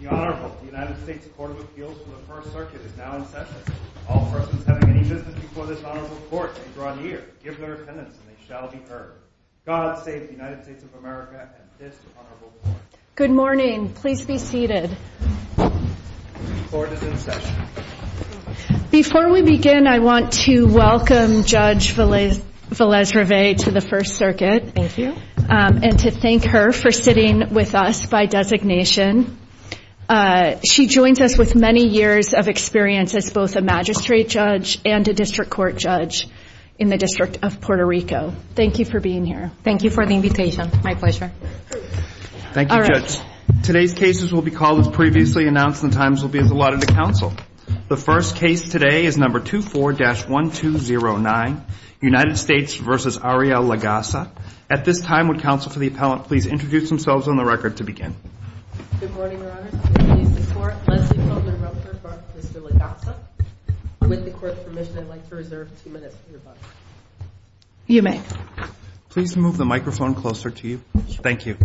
The Honorable United States Court of Appeals for the First Circuit is now in session. All persons having any business before this Honorable Court and beyond here, give their attendance and they shall be heard. God save the United States of America and this Honorable Court. Good morning. Please be seated. The Court is in session. Before we begin, I want to welcome Judge Valez-Rivet to the First Circuit. Thank you. And to thank her for sitting with us by designation. She joins us with many years of experience as both a magistrate judge and a district court judge in the District of Puerto Rico. Thank you for being here. Thank you for the invitation. My pleasure. Thank you, Judge. Today's cases will be called as previously announced and the times will be as allotted to counsel. The first case today is number 24-1209, United States v. Ariel Legassa. At this time, would counsel for the appellant please introduce themselves on the record to begin. Good morning, Your Honors. I'm the assistant court Leslie Koehler-Roper for Mr. Legassa. With the court's permission, I'd like to reserve two minutes for rebuttal. You may. Please move the microphone closer to you. Thank you.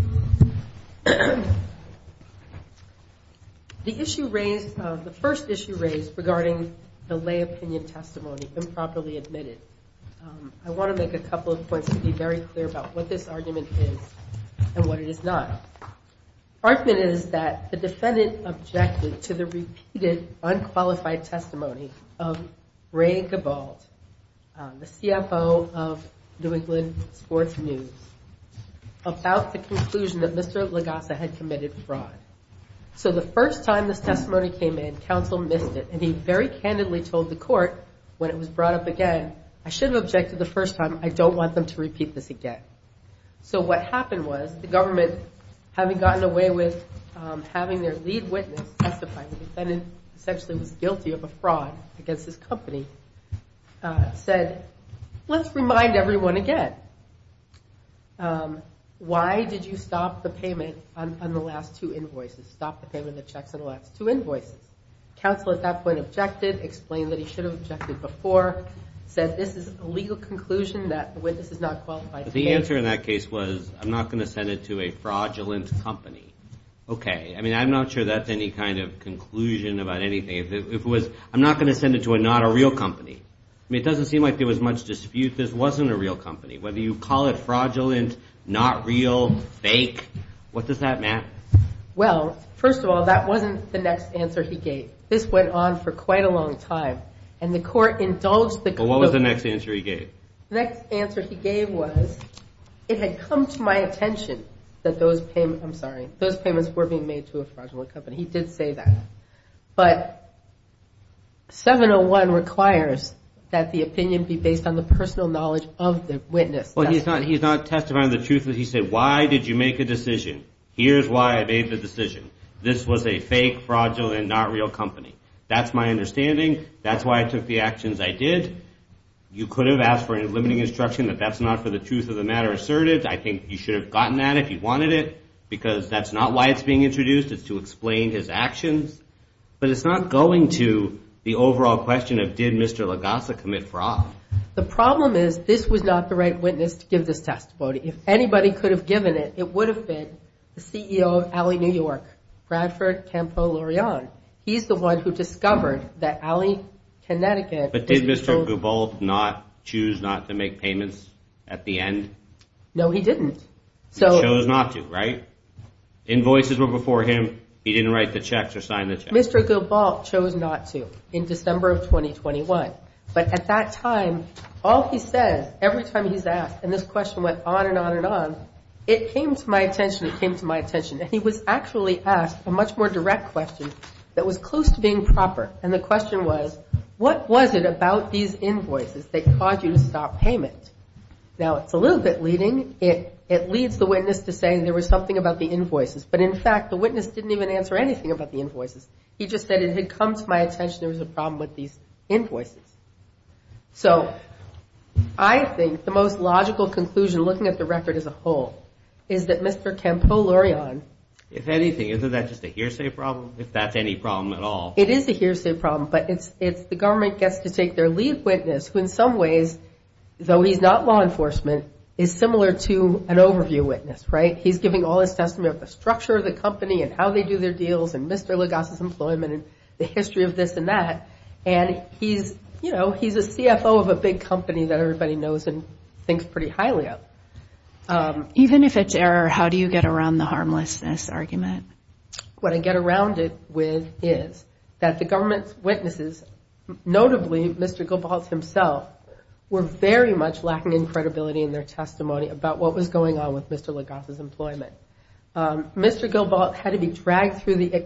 The issue raised, the first issue raised regarding the lay opinion testimony improperly admitted. I want to make a couple of points to be very clear about what this argument is and what it is not. The argument is that the defendant objected to the repeated unqualified testimony of Ray Gabald, the CFO of New England Sports News, about the conclusion that Mr. Legassa had committed fraud. So the first time this testimony came in, counsel missed it. And he very candidly told the court when it was brought up again, I should have objected the first time. I don't want them to repeat this again. So what happened was the government, having gotten away with having their lead witness testify, the defendant essentially was guilty of a fraud against his company, said, let's remind everyone again. Why did you stop the payment on the last two invoices, stop the payment of the checks on the last two invoices? Counsel at that point objected, explained that he should have objected before, said this is a legal conclusion that the witness is not qualified to pay. But the answer in that case was, I'm not going to send it to a fraudulent company. Okay. I mean, I'm not sure that's any kind of conclusion about anything. If it was, I'm not going to send it to a not a real company. I mean, it doesn't seem like there was much dispute this wasn't a real company. Whether you call it fraudulent, not real, fake, what does that mean? Well, first of all, that wasn't the next answer he gave. This went on for quite a long time. And the court indulged the court. What was the next answer he gave? The next answer he gave was, it had come to my attention that those payments, I'm sorry, those payments were being made to a fraudulent company. He did say that. But 701 requires that the opinion be based on the personal knowledge of the witness. Well, he's not testifying to the truth. He said, why did you make a decision? Here's why I made the decision. This was a fake, fraudulent, not real company. That's my understanding. That's why I took the actions I did. You could have asked for a limiting instruction that that's not for the truth of the matter asserted. I think you should have gotten that if you wanted it. Because that's not why it's being introduced. It's to explain his actions. But it's not going to the overall question of did Mr. Lagassa commit fraud. The problem is, this was not the right witness to give this testimony. If anybody could have given it, it would have been the CEO of Alley, New York, Bradford Campolurian. He's the one who discovered that Alley, Connecticut. But did Mr. Gubalt choose not to make payments at the end? No, he didn't. He chose not to, right? Invoices were before him. He didn't write the checks or sign the checks. Mr. Gubalt chose not to in December of 2021. But at that time, all he says, every time he's asked, and this question went on and on and on, it came to my attention. It came to my attention. And he was actually asked a much more direct question that was close to being proper. And the question was, what was it about these invoices that caused you to stop payment? Now, it's a little bit leading. It leads the witness to say there was something about the invoices. But, in fact, the witness didn't even answer anything about the invoices. He just said it had come to my attention there was a problem with these invoices. So I think the most logical conclusion, looking at the record as a whole, is that Mr. Tempolurion. If anything, isn't that just a hearsay problem, if that's any problem at all? It is a hearsay problem. But it's the government gets to take their lead witness, who in some ways, though he's not law enforcement, is similar to an overview witness, right? He's giving all his testimony of the structure of the company and how they do their deals and Mr. Lagasse's employment and the history of this and that. And he's, you know, he's a CFO of a big company that everybody knows and thinks pretty highly of. Even if it's error, how do you get around the harmlessness argument? What I get around it with is that the government's witnesses, notably Mr. Goebbels himself, were very much lacking in credibility in their testimony about what was going on with Mr. Lagasse's employment. Mr. Goebbels had to be dragged through the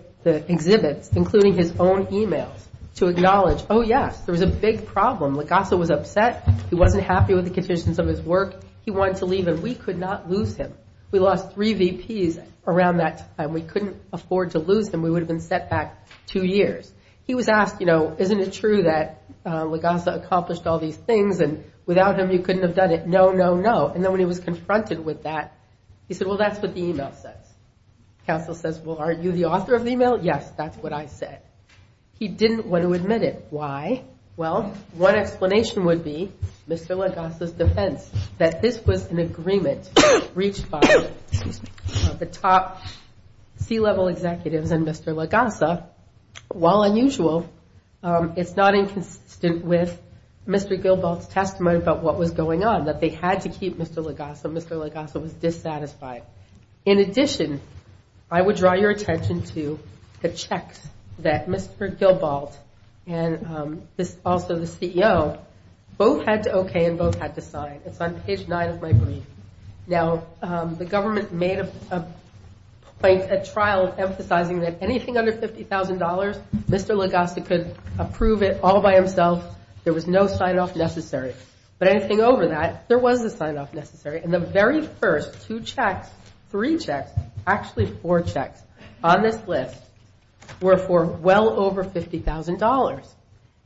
exhibits, including his own emails, to acknowledge, oh, yes, there was a big problem. Lagasse was upset. He wasn't happy with the conditions of his work. He wanted to leave and we could not lose him. We lost three VPs around that time. We couldn't afford to lose him. We would have been set back two years. He was asked, you know, isn't it true that Lagasse accomplished all these things and without him you couldn't have done it? No, no, no. And then when he was confronted with that, he said, well, that's what the email says. Counsel says, well, are you the author of the email? Yes, that's what I said. He didn't want to admit it. Why? Well, one explanation would be Mr. Lagasse's defense, that this was an agreement reached by the top C-level executives and Mr. Lagasse. While unusual, it's not inconsistent with Mr. Goebbels' testimony about what was going on, that they had to keep Mr. Lagasse and Mr. Lagasse was dissatisfied. In addition, I would draw your attention to the checks that Mr. Gilbalt and also the CEO both had to okay and both had to sign. It's on page nine of my brief. Now, the government made a trial emphasizing that anything under $50,000, Mr. Lagasse could approve it all by himself. There was no sign-off necessary. But anything over that, there was a sign-off necessary. And the very first two checks, three checks, actually four checks on this list were for well over $50,000.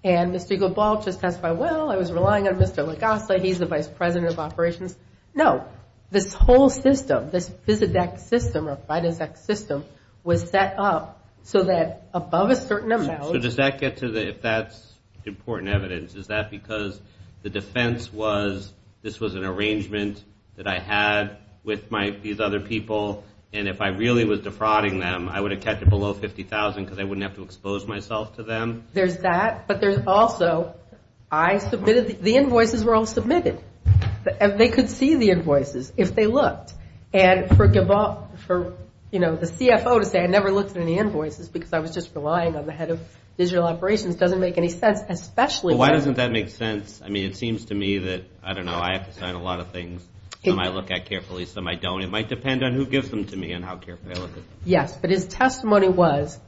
And Mr. Gilbalt just testified, well, I was relying on Mr. Lagasse. He's the vice president of operations. No. This whole system, this FISADEC system or FIDESEC system was set up so that above a certain amount. So does that get to the, if that's important evidence, is that because the defense was this was an arrangement that I had with these other people? And if I really was defrauding them, I would have kept it below $50,000 because I wouldn't have to expose myself to them? There's that. But there's also I submitted, the invoices were all submitted. They could see the invoices if they looked. And for, you know, the CFO to say I never looked at any invoices because I was just relying on the head of digital operations doesn't make any sense. Why doesn't that make sense? I mean, it seems to me that, I don't know, I have to sign a lot of things. Some I look at carefully, some I don't. It might depend on who gives them to me and how carefully I look at them. Yes, but his testimony was,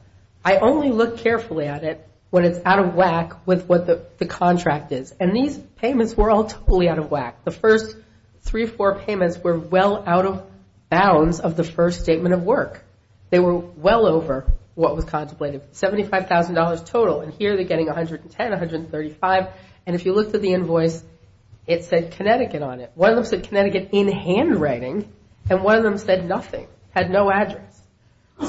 I only look carefully at it when it's out of whack with what the contract is. And these payments were all totally out of whack. The first three or four payments were well out of bounds of the first statement of work. They were well over what was contemplated. $75,000 total, and here they're getting $110,000, $135,000. And if you looked at the invoice, it said Connecticut on it. One of them said Connecticut in handwriting, and one of them said nothing, had no address.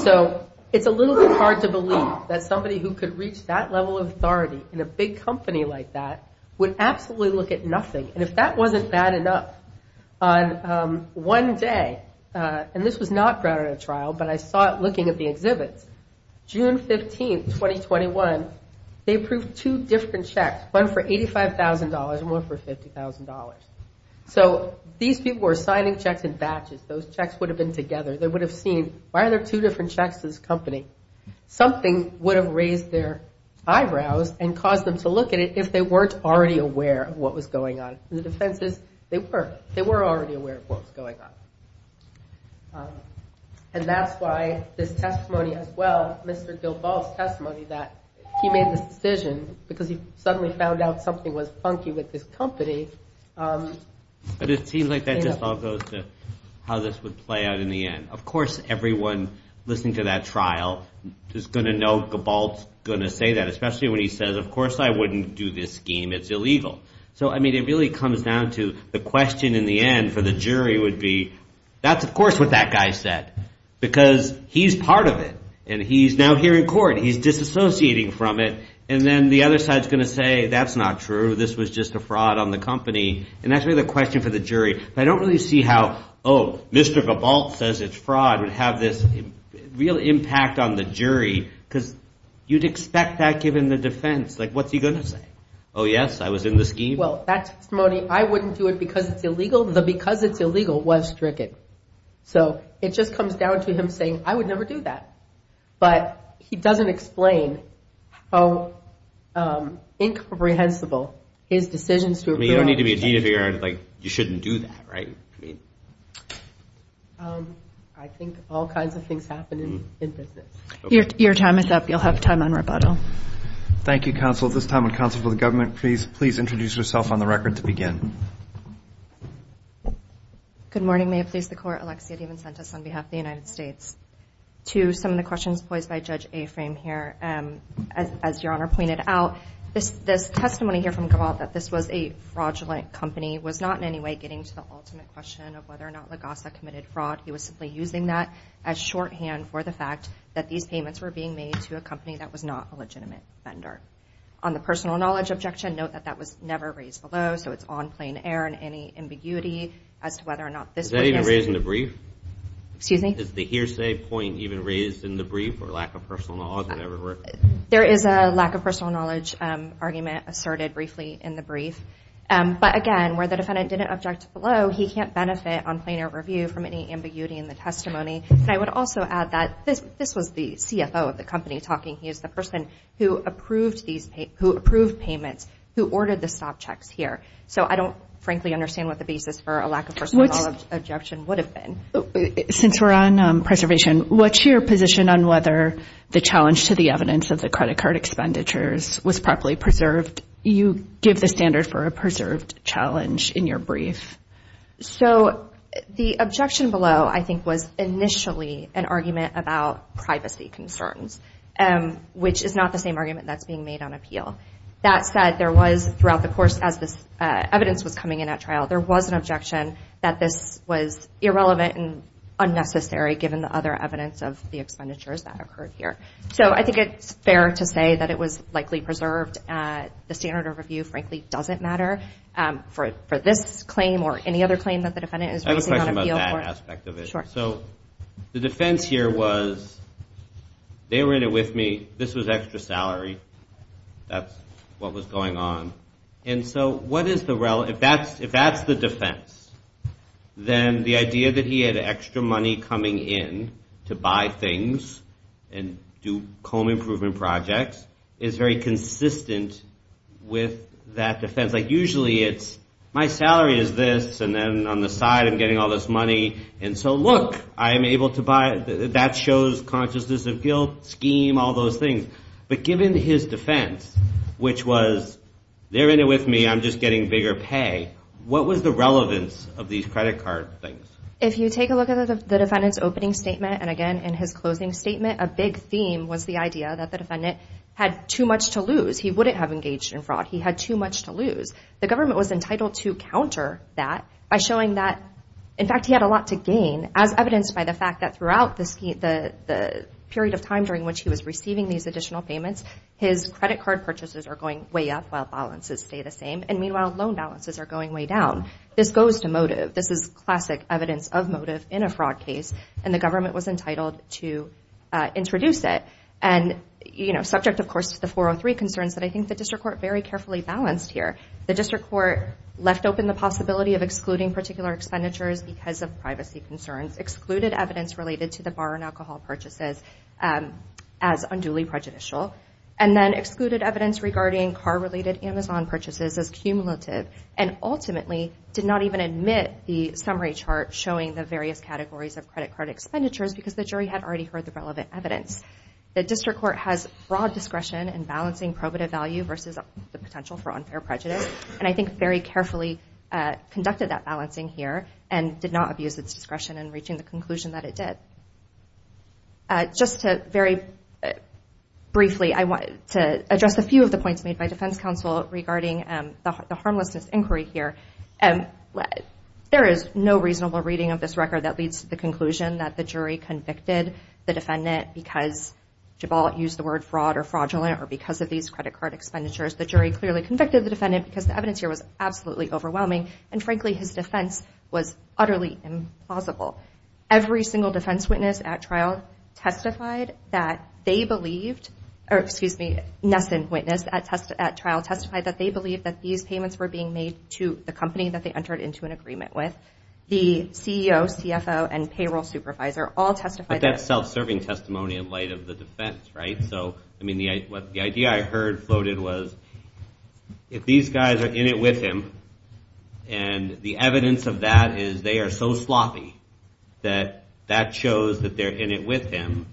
So it's a little bit hard to believe that somebody who could reach that level of authority in a big company like that would absolutely look at nothing. And if that wasn't bad enough, on one day, and this was not brought at a trial, but I saw it looking at the exhibits, June 15, 2021, they approved two different checks, one for $85,000 and one for $50,000. So these people were signing checks in batches. Those checks would have been together. They would have seen, why are there two different checks in this company? Something would have raised their eyebrows and caused them to look at it if they weren't already aware of what was going on. And the defense is they were. They were already aware of what was going on. And that's why this testimony as well, Mr. Gilball's testimony that he made this decision because he suddenly found out something was funky with this company. But it seems like that just all goes to how this would play out in the end. Of course, everyone listening to that trial is going to know Gilball's going to say that, especially when he says, of course, I wouldn't do this scheme. It's illegal. So, I mean, it really comes down to the question in the end for the jury would be, that's, of course, what that guy said, because he's part of it. And he's now here in court. He's disassociating from it. And then the other side is going to say, that's not true. This was just a fraud on the company. And that's really the question for the jury. But I don't really see how, oh, Mr. Gilball says it's fraud would have this real impact on the jury, because you'd expect that given the defense. Like, what's he going to say? Oh, yes, I was in the scheme. Well, that testimony, I wouldn't do it because it's illegal. The because it's illegal was stricken. So it just comes down to him saying, I would never do that. But he doesn't explain how incomprehensible his decisions to approve. I mean, you don't need to be a dean to figure out, like, you shouldn't do that, right? I think all kinds of things happen in business. Your time is up. You'll have time on rebuttal. Thank you, counsel. At this time, would counsel for the government please introduce yourself on the record to begin. Good morning. May it please the court. Alexia DiMincentis on behalf of the United States. To some of the questions poised by Judge Afram here, as Your Honor pointed out, this testimony here from Gilball that this was a fraudulent company was not in any way getting to the ultimate question of whether or not LaGossa committed fraud. He was simply using that as shorthand for the fact that these payments were being made to a company that was not a legitimate vendor. On the personal knowledge objection, note that that was never raised below, so it's on plain air. There isn't any ambiguity as to whether or not this witness. Is that even raised in the brief? Excuse me? Is the hearsay point even raised in the brief or lack of personal knowledge or whatever? There is a lack of personal knowledge argument asserted briefly in the brief. But, again, where the defendant didn't object below, he can't benefit on plain air review from any ambiguity in the testimony. And I would also add that this was the CFO of the company talking. He is the person who approved payments, who ordered the stop checks here. So I don't, frankly, understand what the basis for a lack of personal knowledge objection would have been. Since we're on preservation, what's your position on whether the challenge to the evidence of the credit card expenditures was properly preserved? You give the standard for a preserved challenge in your brief. So the objection below, I think, was initially an argument about privacy concerns, which is not the same argument that's being made on appeal. That said, there was, throughout the course as this evidence was coming in at trial, there was an objection that this was irrelevant and unnecessary given the other evidence of the expenditures that occurred here. So I think it's fair to say that it was likely preserved. The standard of review, frankly, doesn't matter for this claim or any other claim that the defendant is raising on appeal. I have a question about that aspect of it. Sure. So the defense here was they were in it with me. This was extra salary. That's what was going on. And so if that's the defense, then the idea that he had extra money coming in to buy things and do home improvement projects is very consistent with that defense. Like, usually it's my salary is this, and then on the side I'm getting all this money. And so, look, that shows consciousness of guilt, scheme, all those things. But given his defense, which was they're in it with me, I'm just getting bigger pay, what was the relevance of these credit card things? If you take a look at the defendant's opening statement and, again, in his closing statement, a big theme was the idea that the defendant had too much to lose. He wouldn't have engaged in fraud. He had too much to lose. The government was entitled to counter that by showing that, in fact, he had a lot to gain, as evidenced by the fact that throughout the period of time during which he was receiving these additional payments, his credit card purchases are going way up while balances stay the same. And meanwhile, loan balances are going way down. This goes to motive. This is classic evidence of motive in a fraud case, and the government was entitled to introduce it. Subject, of course, to the 403 concerns that I think the district court very carefully balanced here. The district court left open the possibility of excluding particular expenditures because of privacy concerns, excluded evidence related to the bar and alcohol purchases as unduly prejudicial, and then excluded evidence regarding car-related Amazon purchases as cumulative, and ultimately did not even admit the summary chart showing the various categories of credit card expenditures because the jury had already heard the relevant evidence. The district court has broad discretion in balancing probative value versus the potential for unfair prejudice, and I think very carefully conducted that balancing here and did not abuse its discretion in reaching the conclusion that it did. Just very briefly, I want to address a few of the points made by defense counsel regarding the harmlessness inquiry here. There is no reasonable reading of this record that leads to the conclusion that the jury convicted the defendant because Jabal used the word fraud or fraudulent or because of these credit card expenditures. The jury clearly convicted the defendant because the evidence here was absolutely overwhelming, and frankly, his defense was utterly implausible. Every single defense witness at trial testified that they believed – or, excuse me, Nesson witness at trial testified that they believed that these payments were being made to the company that they entered into an agreement with. The CEO, CFO, and payroll supervisor all testified that – But that's self-serving testimony in light of the defense, right? So, I mean, the idea I heard floated was if these guys are in it with him and the evidence of that is they are so sloppy that that shows that they're in it with him,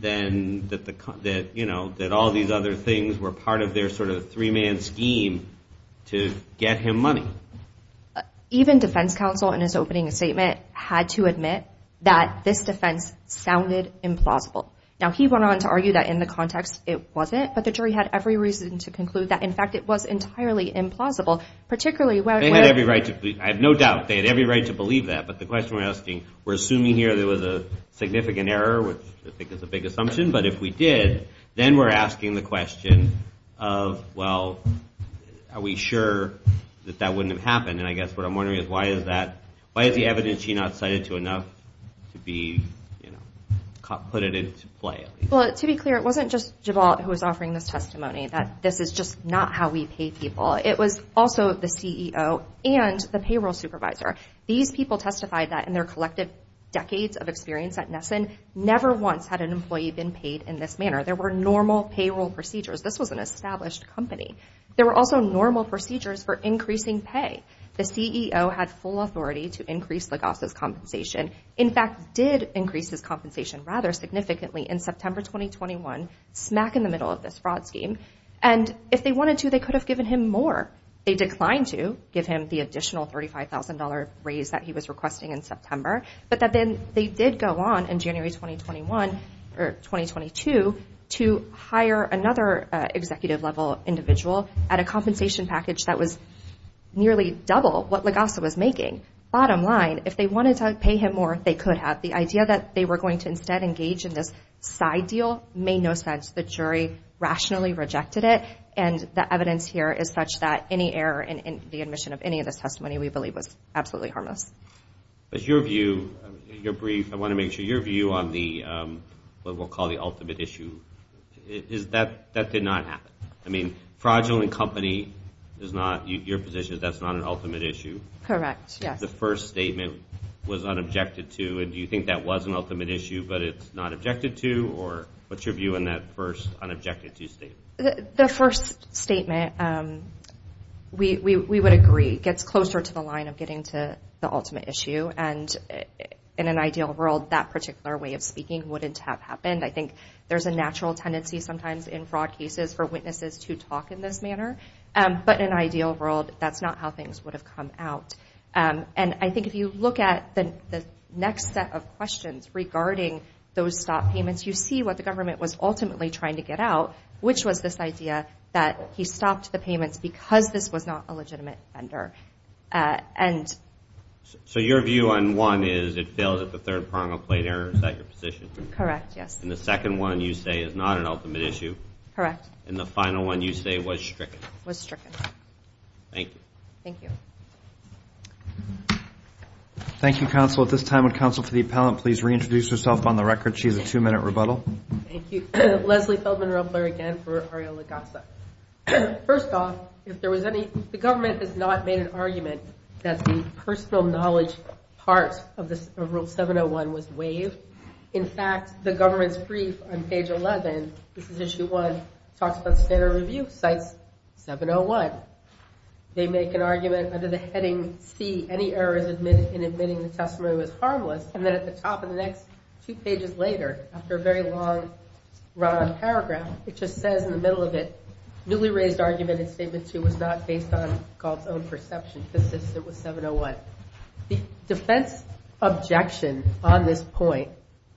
then that all these other things were part of their sort of three-man scheme to get him money. Even defense counsel in his opening statement had to admit that this defense sounded implausible. Now, he went on to argue that in the context it wasn't, but the jury had every reason to conclude that, in fact, it was entirely implausible, particularly when – They had every right to – I have no doubt they had every right to believe that, but the question we're asking, we're assuming here there was a significant error, which I think is a big assumption, but if we did, then we're asking the question of, well, are we sure that that wouldn't have happened? And I guess what I'm wondering is why is that – why is the evidence he not cited to enough to be, you know, put it into play? Well, to be clear, it wasn't just Gibalt who was offering this testimony, that this is just not how we pay people. It was also the CEO and the payroll supervisor. These people testified that in their collective decades of experience at Nesson, never once had an employee been paid in this manner. There were normal payroll procedures. This was an established company. There were also normal procedures for increasing pay. The CEO had full authority to increase Lagasse's compensation, in fact, did increase his compensation rather significantly in September 2021, smack in the middle of this fraud scheme, and if they wanted to, they could have given him more. They declined to give him the additional $35,000 raise that he was requesting in September, but then they did go on in January 2021 or 2022 to hire another executive-level individual at a compensation package that was nearly double what Lagasse was making. Bottom line, if they wanted to pay him more, they could have. The idea that they were going to instead engage in this side deal made no sense. The jury rationally rejected it, and the evidence here is such that any error in the admission of any of this testimony we believe was absolutely harmless. But your view, your brief, I want to make sure, your view on what we'll call the ultimate issue, is that that did not happen. I mean, fraudulent company is not your position, that's not an ultimate issue? Correct, yes. The first statement was unobjected to, and do you think that was an ultimate issue, but it's not objected to, or what's your view on that first unobjected to statement? The first statement, we would agree, gets closer to the line of getting to the ultimate issue, and in an ideal world, that particular way of speaking wouldn't have happened. I think there's a natural tendency sometimes in fraud cases for witnesses to talk in this manner, but in an ideal world, that's not how things would have come out. And I think if you look at the next set of questions regarding those stop payments, you see what the government was ultimately trying to get out, which was this idea that he stopped the payments because this was not a legitimate offender. So your view on one is it failed at the third prong of plain error, is that your position? Correct, yes. And the second one you say is not an ultimate issue? Correct. And the final one you say was stricken? Was stricken. Thank you. Thank you. Thank you, counsel. At this time, would counsel for the appellant please reintroduce herself on the record? She has a two-minute rebuttal. Thank you. Leslie Feldman, real player again for Ariel Lagasa. First off, the government has not made an argument that the personal knowledge part of Rule 701 was waived. In fact, the government's brief on page 11, this is issue one, talks about standard review, CITES 701. They make an argument under the heading C, any errors in admitting the testimony was harmless, and then at the top of the next two pages later, after a very long paragraph, it just says in the middle of it, newly raised argument in statement two was not based on Galt's own perception. It was 701. The defense objection on this point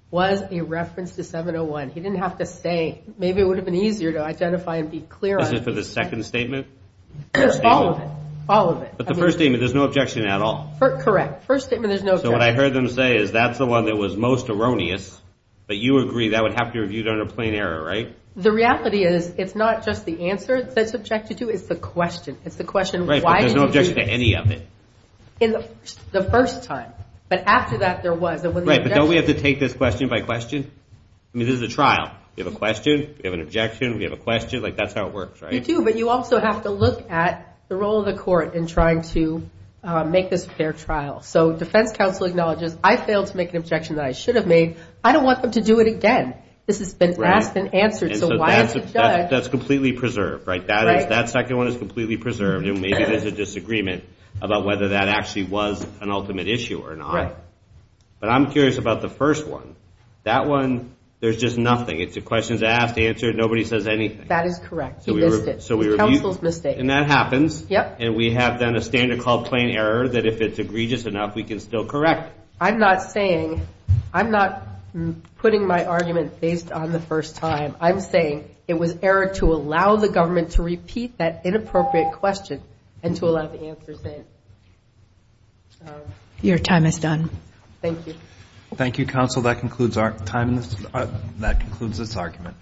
was a reference to 701. He didn't have to say. Maybe it would have been easier to identify and be clear on it. Is it for the second statement? There's all of it. All of it. But the first statement, there's no objection at all? Correct. First statement, there's no objection. So what I heard them say is that's the one that was most erroneous, but you agree that would have to be reviewed under plain error, right? The reality is it's not just the answer that's objected to. It's the question. It's the question, why did you do this? Right, but there's no objection to any of it. The first time. But after that, there was. Right, but don't we have to take this question by question? I mean, this is a trial. We have a question. We have an objection. We have a question. Like, that's how it works, right? You do, but you also have to look at the role of the court in trying to make this a fair trial. So defense counsel acknowledges, I failed to make an objection that I should have made. I don't want them to do it again. This has been asked and answered, so why is the judge. That's completely preserved, right? That second one is completely preserved, and maybe there's a disagreement about whether that actually was an ultimate issue or not. Right. But I'm curious about the first one. That one, there's just nothing. It's a questions asked, answered, nobody says anything. That is correct. He missed it. Counsel's mistake. And that happens. Yep. And we have then a standard called plain error that if it's egregious enough, we can still correct. I'm not saying, I'm not putting my argument based on the first time. I'm saying it was error to allow the government to repeat that inappropriate question and to allow the answer said. Your time is done. Thank you. Thank you, counsel. That concludes our time. That concludes this argument.